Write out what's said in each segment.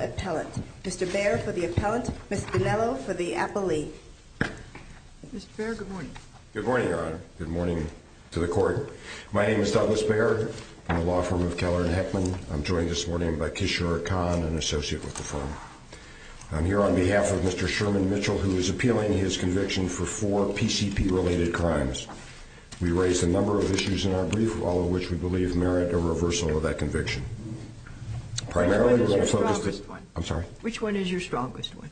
Appellant. Mr. Baird for the Appellant. Ms. Bonello for the Appellee. Mr. Baird, good morning. Good morning, Your Honor. Good morning to the Court. My name is Douglas Baird. I'm the law firm of Keller & Heckman. I'm joined this morning by Kishore Khan, an associate with the firm. I'm here on behalf of Mr. Sherman Mitchell, who is appealing his conviction for four CCP-related crimes. We raised a number of issues in our brief, all of which we believe merit a reversal of that conviction. Which one is your strongest one?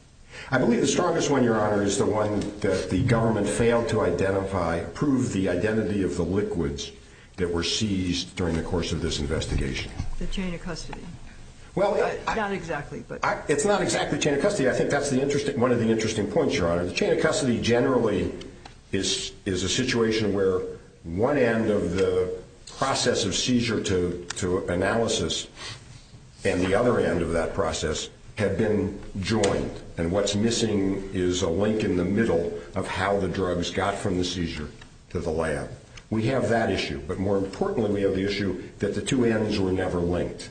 I believe the strongest one, Your Honor, is the one that the government failed to identify, prove the identity of the liquids that were seized during the course of this investigation. The chain of custody? Well, it's not exactly chain of custody. I think that's one of the interesting points, Your Honor. The chain of custody generally is a situation where one end of the process of seizure to analysis and the other end of that process have been joined. And what's missing is a link in the middle of how the drugs got from the seizure to the lab. We have that issue. But more importantly, we have the issue that the two ends were never linked.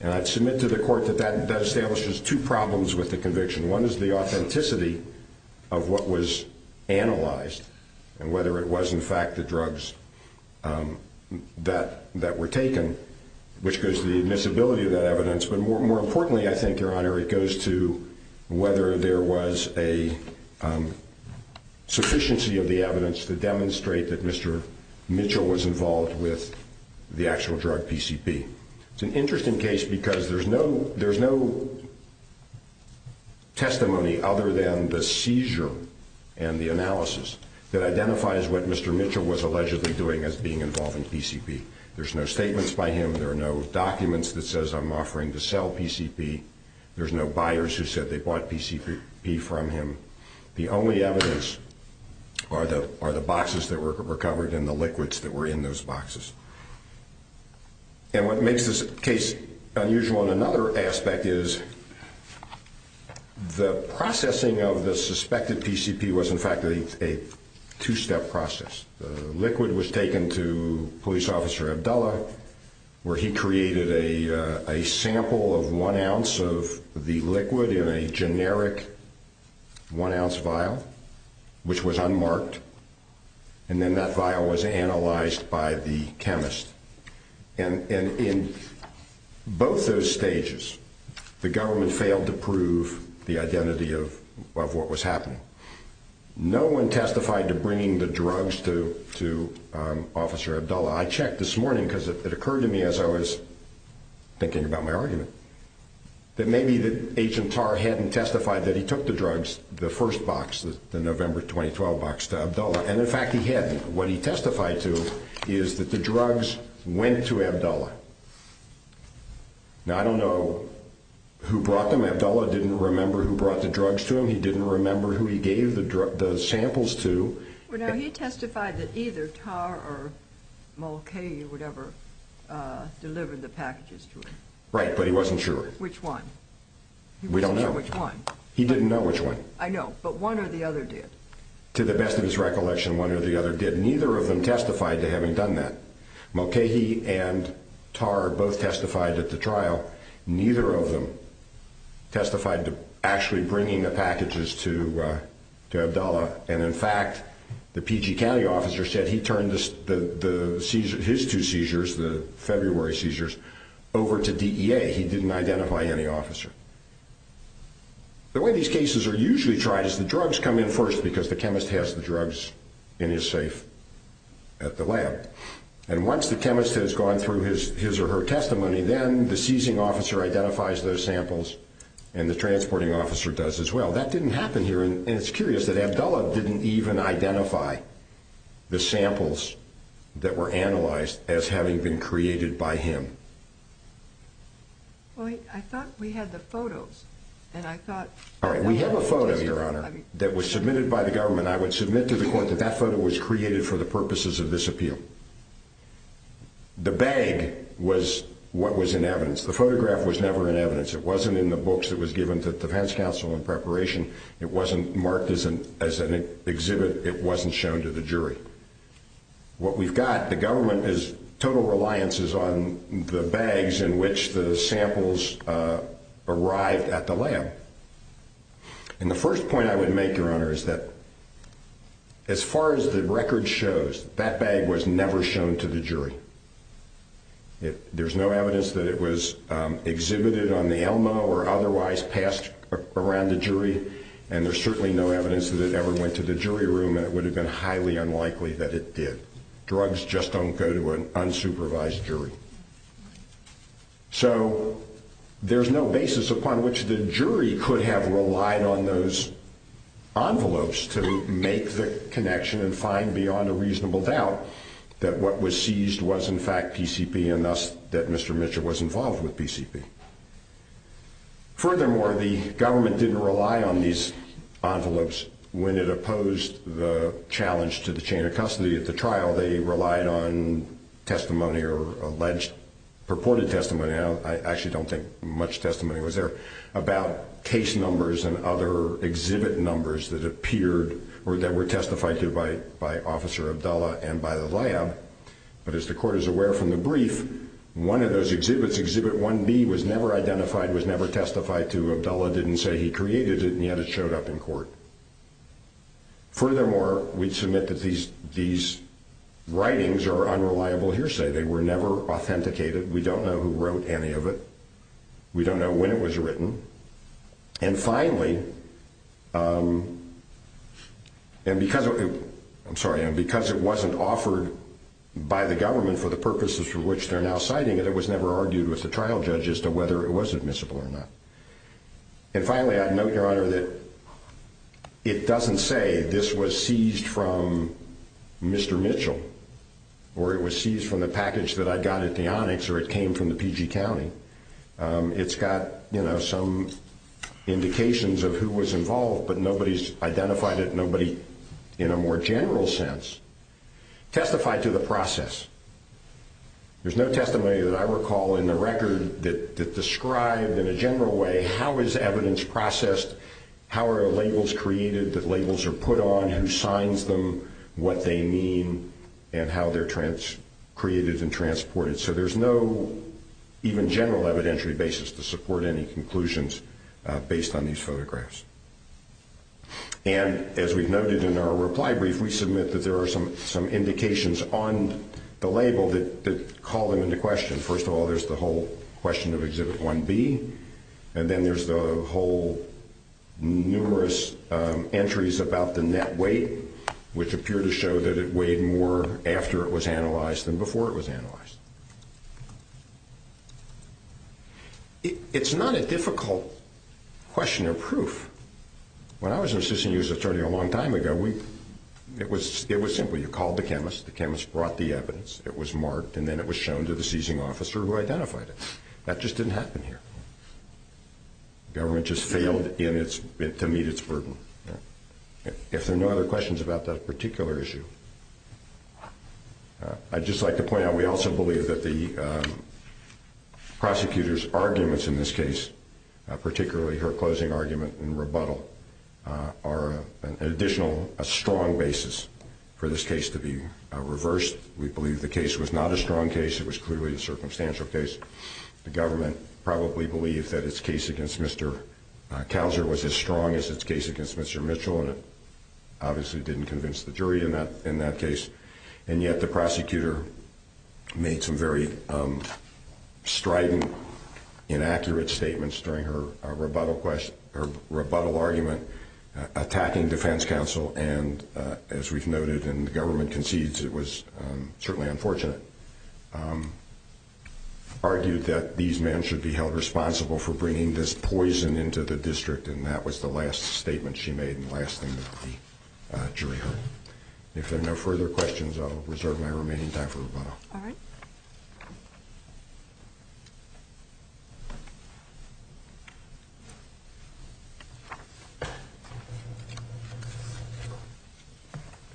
And I'd submit to the court that that establishes two problems with the conviction. One is the authenticity of what was analyzed and whether it was in fact the drugs that were taken, which goes to the admissibility of that evidence. But more importantly, I think, Your Honor, it goes to whether there was a sufficiency of the evidence to demonstrate that Mr. There's no testimony other than the seizure and the analysis that identifies what Mr. Mitchell was allegedly doing as being involved in PCP. There's no statements by him. There are no documents that says I'm offering to sell PCP. There's no buyers who said they bought PCP from him. The only evidence are the boxes that were recovered and the liquids that were in those boxes. And what makes this case unusual in another aspect is the processing of the suspected PCP was in fact a two step process. The liquid was taken to police officer Abdullah, where he created a sample of one ounce of the liquid in a generic one ounce vial, which was unmarked. And then that vial was analyzed by the chemist. And in both those stages, the government failed to prove the identity of what was happening. No one testified to bringing the drugs to to officer Abdullah. I checked this morning because it occurred to me as I was thinking about my argument. That maybe the agent TAR hadn't testified that he took the drugs, the first box, the November 2012 box to Abdullah. And in fact, he had what he testified to is that the drugs went to Abdullah. Now, I don't know who brought them. Abdullah didn't remember who brought the drugs to him. He didn't remember who he gave the drug samples to. Well, now he testified that either TAR or Mulcahy would ever deliver the packages to him. Right. But he wasn't sure which one. We don't know which one. He didn't know which one. I know. But one or the other did. To the best of his recollection, one or the other did. Neither of them testified to having done that. Mulcahy and TAR both testified at the trial. Neither of them testified to actually bringing the packages to Abdullah. And in fact, the PG County officer said he turned his two seizures, the February seizures, over to DEA. He didn't identify any officer. The way these cases are usually tried is the drugs come in first because the chemist has the drugs in his safe at the lab. And once the chemist has gone through his or her testimony, then the seizing officer identifies those samples and the transporting officer does as well. That didn't happen here. And it's curious that Abdullah didn't even identify the samples that were analyzed as having been created by him. Well, I thought we had the photos and I thought. All right. We have a photo, Your Honor, that was submitted by the government. I would submit to the court that that photo was created for the purposes of this appeal. The bag was what was in evidence. The photograph was never in evidence. It wasn't in the books that was given to the defense counsel in preparation. It wasn't marked as an as an exhibit. It wasn't shown to the jury. What we've got, the government is total reliances on the bags in which the samples arrived at the lab. And the first point I would make, Your Honor, is that as far as the record shows, that bag was never shown to the jury. There's no evidence that it was exhibited on the Elma or otherwise passed around the jury. And there's certainly no evidence that it ever went to the jury room. And it would have been highly unlikely that it did. Drugs just don't go to an unsupervised jury. So there's no basis upon which the jury could have relied on those envelopes to make the connection and find beyond a reasonable doubt that what was seized was in fact PCP and thus that Mr. Mitchell was involved with PCP. Furthermore, the government didn't rely on these envelopes when it opposed the challenge to the chain of custody at the trial. They relied on testimony or alleged purported testimony. I actually don't think much testimony was there about case numbers and other exhibit numbers that appeared or that were testified to by Officer Abdallah and by the lab. But as the court is aware from the brief, one of those exhibits, exhibit 1B, was never identified, was never testified to. Abdallah didn't say he created it, and yet it showed up in court. Furthermore, we submit that these writings are unreliable hearsay. They were never authenticated. We don't know who wrote any of it. We don't know when it was written. And finally, because it wasn't offered by the government for the purposes for which they're now citing it, it was never argued with the trial judge as to whether it was admissible or not. And finally, I'd note, Your Honor, that it doesn't say this was seized from Mr. Mitchell or it was seized from the package that I got at the Onyx or it came from the PG County. It's got some indications of who was involved, but nobody's identified it, nobody in a more general sense testified to the process. There's no testimony that I recall in the record that described in a general way how is evidence processed, how are labels created, that labels are put on, who signs them, what they mean, and how they're created and transported. So there's no even general evidentiary basis to support any conclusions based on these photographs. And as we've noted in our reply brief, we submit that there are some indications on the label that call them into question. First of all, there's the whole question of Exhibit 1B, and then there's the whole numerous entries about the net weight, which appear to show that it weighed more after it was analyzed than before it was analyzed. It's not a difficult question of proof. When I was an assistant user attorney a long time ago, it was simple. You called the chemist, the chemist brought the evidence, it was marked, and then it was shown to the seizing officer who identified it. That just didn't happen here. The government just failed to meet its burden. If there are no other questions about that particular issue, I'd just like to point out, we also believe that the prosecutor's arguments in this case, particularly her closing argument in rebuttal, are an additional strong basis for this case to be reversed. We believe the case was not a strong case. It was clearly a circumstantial case. The government probably believed that its case against Mr. Couser was as strong as its case against Mr. Mitchell, and it obviously didn't convince the jury in that case. And yet the prosecutor made some very strident, inaccurate statements during her rebuttal argument attacking defense counsel and, as we've noted and the government concedes it was certainly unfortunate, argued that these men should be held responsible for bringing this poison into the district, and that was the last statement she made and the last thing that the jury heard. If there are no further questions, I'll reserve my remaining time for rebuttal. All right. Good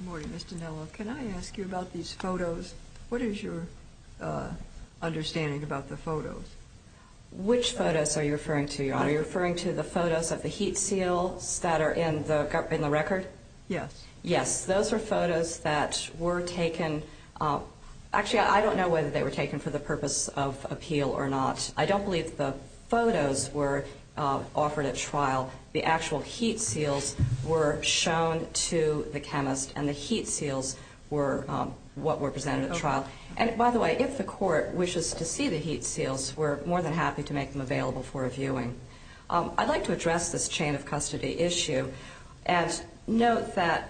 morning, Mr. Nello. Can I ask you about these photos? What is your understanding about the photos? Which photos are you referring to, Your Honor? Are you referring to the photos of the heat seals that are in the record? Yes. Yes, those are photos that were taken. Actually, I don't know whether they were taken for the purpose of appeal or not. I don't believe the photos were offered at trial. The actual heat seals were shown to the chemist, and the heat seals were what were presented at trial. And, by the way, if the court wishes to see the heat seals, we're more than happy to make them available for reviewing. I'd like to address this chain of custody issue and note that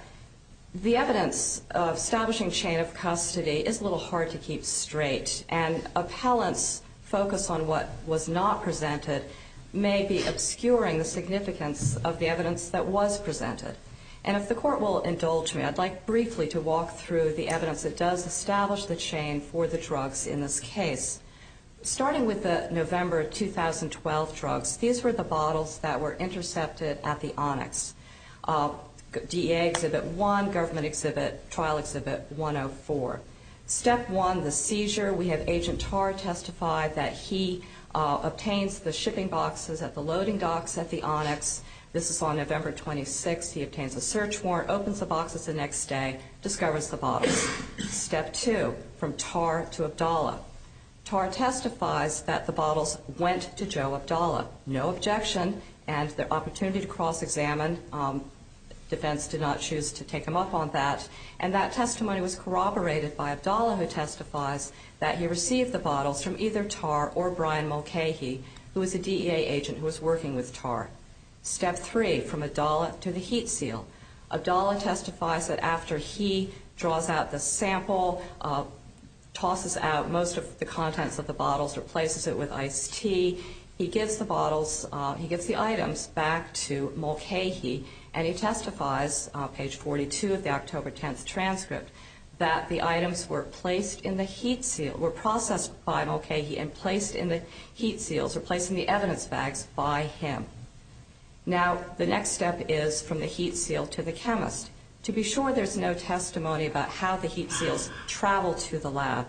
the evidence of establishing chain of custody is a little hard to keep straight, and appellants' focus on what was not presented may be obscuring the significance of the evidence that was presented. And if the court will indulge me, I'd like briefly to walk through the evidence that does establish the chain for the drugs in this case. Starting with the November 2012 drugs, these were the bottles that were intercepted at the onyx. DEA Exhibit 1, Government Exhibit, Trial Exhibit 104. Step 1, the seizure. We have Agent Tarr testify that he obtains the shipping boxes at the loading docks at the onyx. This is on November 26. He obtains a search warrant, opens the boxes the next day, discovers the bottles. Step 2, from Tarr to Abdallah. Tarr testifies that the bottles went to Joe Abdallah. No objection, and the opportunity to cross-examine. Defense did not choose to take him up on that. And that testimony was corroborated by Abdallah, who testifies that he received the bottles from either Tarr or Brian Mulcahy, who was a DEA agent who was working with Tarr. Step 3, from Abdallah to the heat seal. Abdallah testifies that after he draws out the sample, tosses out most of the contents of the bottles, replaces it with iced tea, he gives the items back to Mulcahy, and he testifies, page 42 of the October 10th transcript, that the items were processed by Mulcahy and placed in the heat seals, or placed in the evidence bags, by him. Now, the next step is from the heat seal to the chemist. To be sure, there's no testimony about how the heat seals travel to the lab.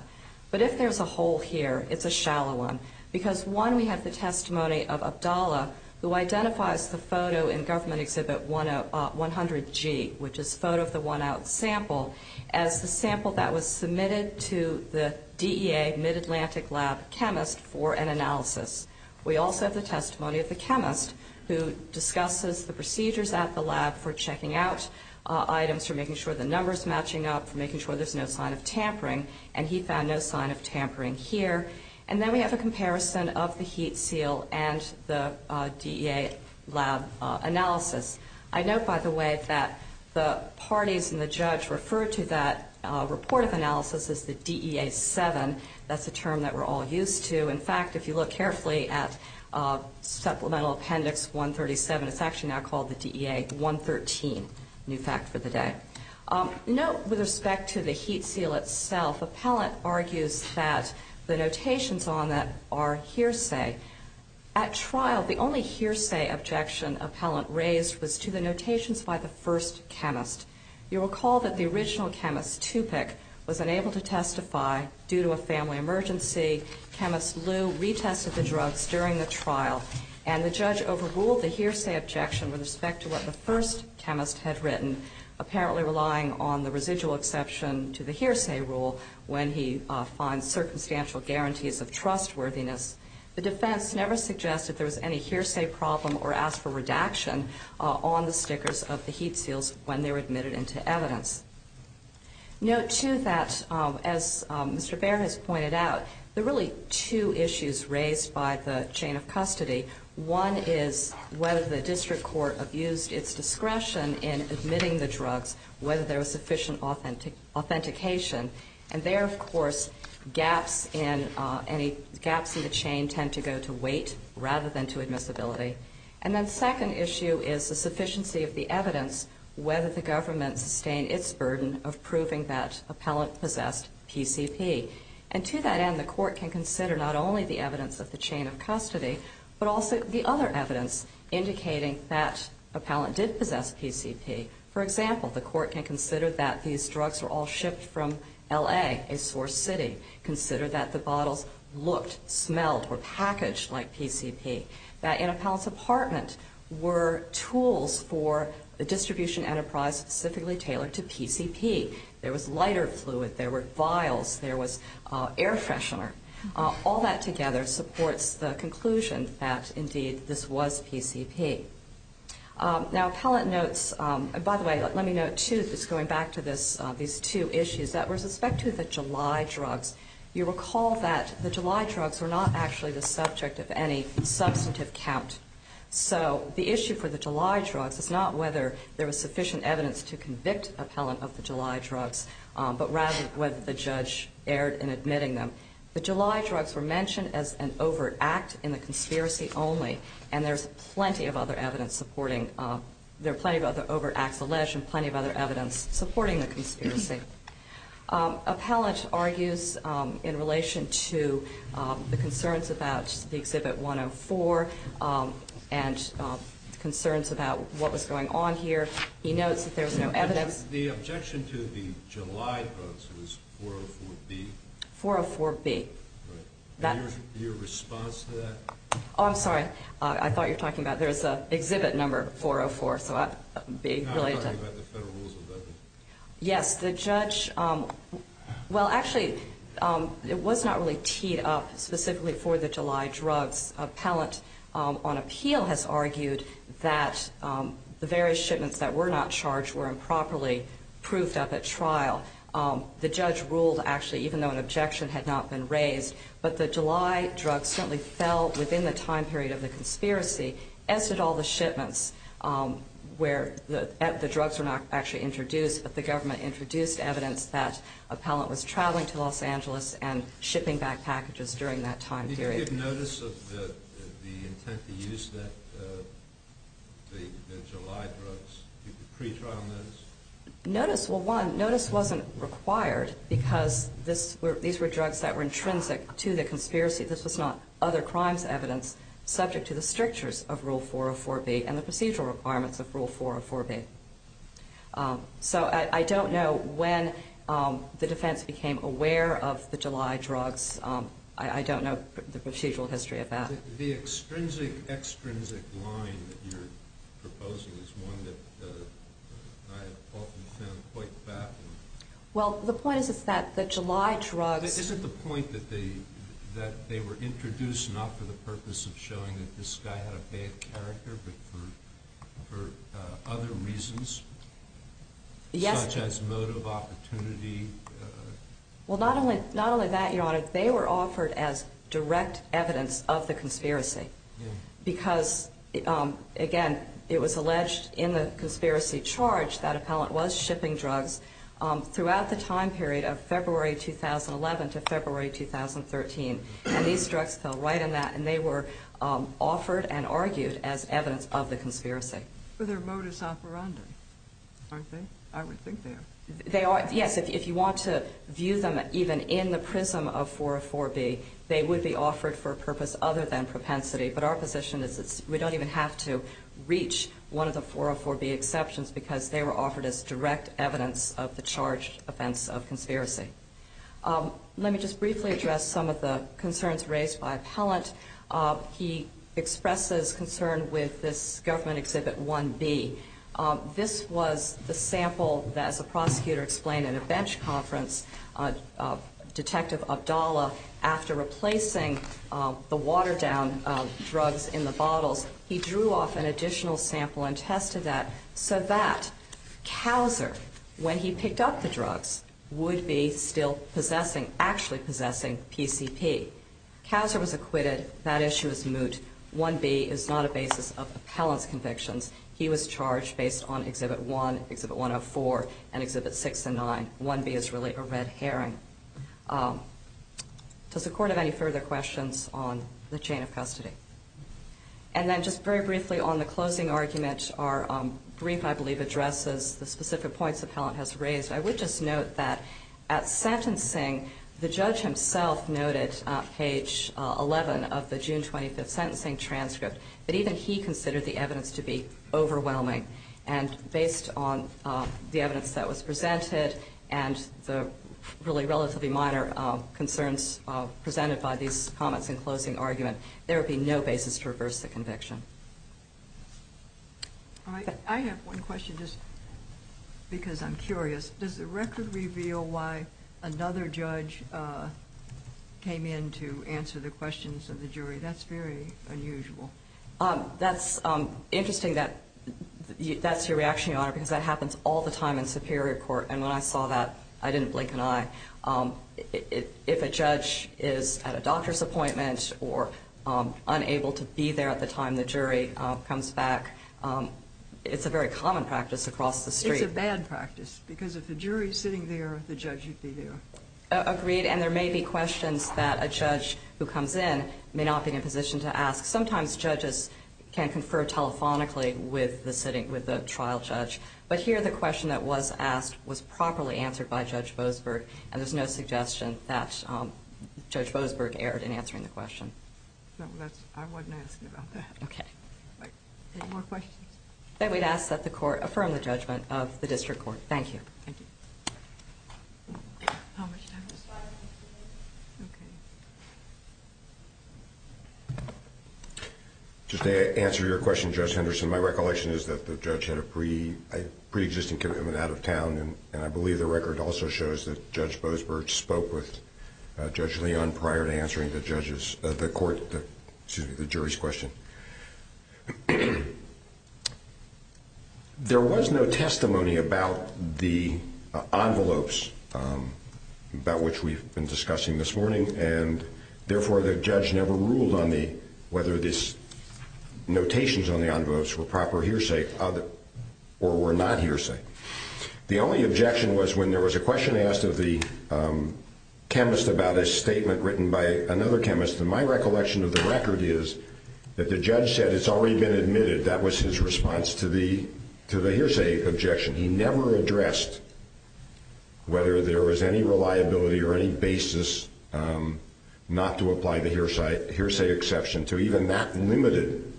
But if there's a hole here, it's a shallow one. Because, one, we have the testimony of Abdallah, who identifies the photo in Government Exhibit 100G, which is a photo of the one-out sample, as the sample that was submitted to the DEA Mid-Atlantic Lab chemist for an analysis. We also have the testimony of the chemist, who discusses the procedures at the lab for checking out items, for making sure the number's matching up, for making sure there's no sign of tampering. And he found no sign of tampering here. And then we have a comparison of the heat seal and the DEA lab analysis. I note, by the way, that the parties in the judge refer to that report of analysis as the DEA-7. That's a term that we're all used to. In fact, if you look carefully at Supplemental Appendix 137, it's actually now called the DEA-113. New fact for the day. Note, with respect to the heat seal itself, appellant argues that the notations on that are hearsay. At trial, the only hearsay objection appellant raised was to the notations by the first chemist. You'll recall that the original chemist, Tupic, was unable to testify due to a family emergency. Chemist Liu retested the drugs during the trial, and the judge overruled the hearsay objection with respect to what the first chemist had written, apparently relying on the residual exception to the hearsay rule when he finds circumstantial guarantees of trustworthiness. The defense never suggested there was any hearsay problem or asked for redaction on the stickers of the heat seals when they were admitted into evidence. Note, too, that, as Mr. Bair has pointed out, there are really two issues raised by the chain of custody. One is whether the district court abused its discretion in admitting the drugs, whether there was sufficient authentication. And there, of course, gaps in the chain tend to go to weight rather than to admissibility. And then the second issue is the sufficiency of the evidence, whether the government sustained its burden of proving that appellant possessed PCP. And to that end, the court can consider not only the evidence of the chain of custody, but also the other evidence indicating that appellant did possess PCP. For example, the court can consider that these drugs were all shipped from L.A., a source city. Consider that the bottles looked, smelled, or packaged like PCP. That in appellant's apartment were tools for a distribution enterprise specifically tailored to PCP. There was lighter fluid. There were vials. There was air freshener. All that together supports the conclusion that, indeed, this was PCP. Now, appellant notes, and by the way, let me note, too, just going back to these two issues, that with respect to the July drugs, you recall that the July drugs were not actually the subject of any substantive count. So the issue for the July drugs is not whether there was sufficient evidence to convict appellant of the July drugs, but rather whether the judge erred in admitting them. The July drugs were mentioned as an overt act in the conspiracy only, and there's plenty of other evidence supporting them. There are plenty of other overt acts alleged and plenty of other evidence supporting the conspiracy. Appellant argues in relation to the concerns about the Exhibit 104 and concerns about what was going on here. He notes that there's no evidence. The objection to the July drugs was 404B. 404B. Your response to that? Oh, I'm sorry. I thought you were talking about there's an exhibit number 404. I'm talking about the federal rules of evidence. Yes. The judge, well, actually, it was not really teed up specifically for the July drugs. Appellant on appeal has argued that the various shipments that were not charged were improperly proofed up at trial. The judge ruled, actually, even though an objection had not been raised, but the July drugs certainly fell within the time period of the conspiracy, as did all the shipments where the drugs were not actually introduced, but the government introduced evidence that appellant was traveling to Los Angeles and shipping back packages during that time period. Did you get notice of the intent to use the July drugs? Pre-trial notice? Notice, well, one, notice wasn't required because these were drugs that were intrinsic to the conspiracy. This was not other crimes evidence subject to the strictures of Rule 404B and the procedural requirements of Rule 404B. So I don't know when the defense became aware of the July drugs. I don't know the procedural history of that. The extrinsic, extrinsic line that you're proposing is one that I have often found quite baffling. Well, the point is that the July drugs – they were introduced not for the purpose of showing that this guy had a bad character, but for other reasons such as motive, opportunity. Well, not only that, Your Honor, they were offered as direct evidence of the conspiracy because, again, it was alleged in the conspiracy charge that appellant was shipping drugs throughout the time period of February 2011 to February 2013. And these drugs fell right in that. And they were offered and argued as evidence of the conspiracy. But they're modus operandi, aren't they? I would think they are. They are, yes. If you want to view them even in the prism of 404B, they would be offered for a purpose other than propensity. But our position is we don't even have to reach one of the 404B exceptions because they were offered as direct evidence of the charged offense of conspiracy. Let me just briefly address some of the concerns raised by appellant. He expresses concern with this Government Exhibit 1B. This was the sample that, as the prosecutor explained at a bench conference, Detective Abdallah, after replacing the watered-down drugs in the bottles, he drew off an additional sample and tested that so that Couser, when he picked up the drugs, would be still actually possessing PCP. Couser was acquitted. That issue is moot. 1B is not a basis of appellant's convictions. He was charged based on Exhibit 1, Exhibit 104, and Exhibit 6 and 9. 1B is really a red herring. Does the Court have any further questions on the chain of custody? And then just very briefly on the closing argument, our brief, I believe, addresses the specific points appellant has raised. I would just note that at sentencing, the judge himself noted, page 11 of the June 25th sentencing transcript, that even he considered the evidence to be overwhelming. And based on the evidence that was presented and the really relatively minor concerns presented by these comments in closing argument, there would be no basis to reverse the conviction. All right. I have one question just because I'm curious. Does the record reveal why another judge came in to answer the questions of the jury? That's very unusual. That's interesting that that's your reaction, Your Honor, because that happens all the time in superior court. And when I saw that, I didn't blink an eye. If a judge is at a doctor's appointment or unable to be there at the time the jury comes back, it's a very common practice across the street. It's a bad practice because if the jury is sitting there, the judge should be there. Agreed. And there may be questions that a judge who comes in may not be in a position to ask. Sometimes judges can confer telephonically with the trial judge. But here the question that was asked was properly answered by Judge Boasberg, and there's no suggestion that Judge Boasberg erred in answering the question. I wasn't asked about that. Okay. Any more questions? Then we'd ask that the court affirm the judgment of the district court. Thank you. Thank you. How much time do we have? Okay. Just to answer your question, Judge Henderson, my recollection is that the judge had a preexisting commitment out of town, and I believe the record also shows that Judge Boasberg spoke with Judge Leon prior to answering the jury's question. There was no testimony about the envelopes, about which we've been discussing this morning, and therefore the judge never ruled on whether these notations on the envelopes were proper hearsay or were not hearsay. The only objection was when there was a question asked of the chemist about a statement written by another chemist, and my recollection of the record is that the judge said it's already been admitted. That was his response to the hearsay objection. He never addressed whether there was any reliability or any basis not to apply the hearsay exception to even that limited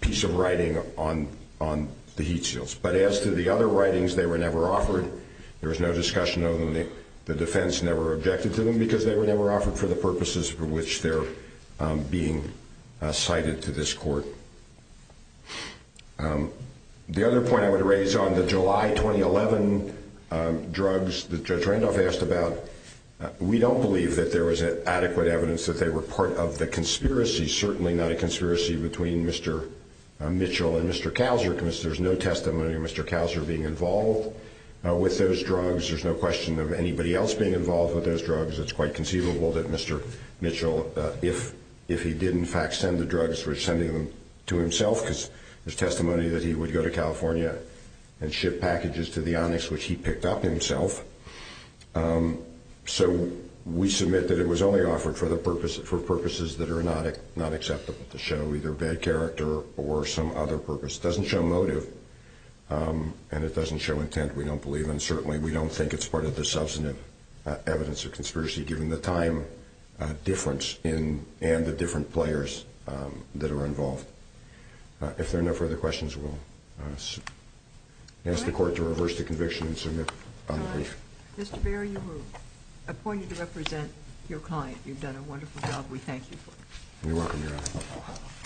piece of writing on the heat shields. But as to the other writings, they were never offered. There was no discussion of them. The defense never objected to them because they were never offered for the purposes for which they're being cited to this court. The other point I want to raise on the July 2011 drugs that Judge Randolph asked about, we don't believe that there was adequate evidence that they were part of the conspiracy, certainly not a conspiracy between Mr. Mitchell and Mr. Kauser. There's no testimony of Mr. Kauser being involved with those drugs. There's no question of anybody else being involved with those drugs. It's quite conceivable that Mr. Mitchell, if he did in fact send the drugs, was sending them to himself because there's testimony that he would go to California and ship packages to the Onyx, which he picked up himself. So we submit that it was only offered for purposes that are not acceptable to show, either bad character or some other purpose. It doesn't show motive, and it doesn't show intent, we don't believe, and certainly we don't think it's part of the substantive evidence of conspiracy, given the time difference and the different players that are involved. If there are no further questions, we'll ask the court to reverse the conviction and submit on the brief. Mr. Baer, you were appointed to represent your client. You've done a wonderful job. You're welcome, Your Honor.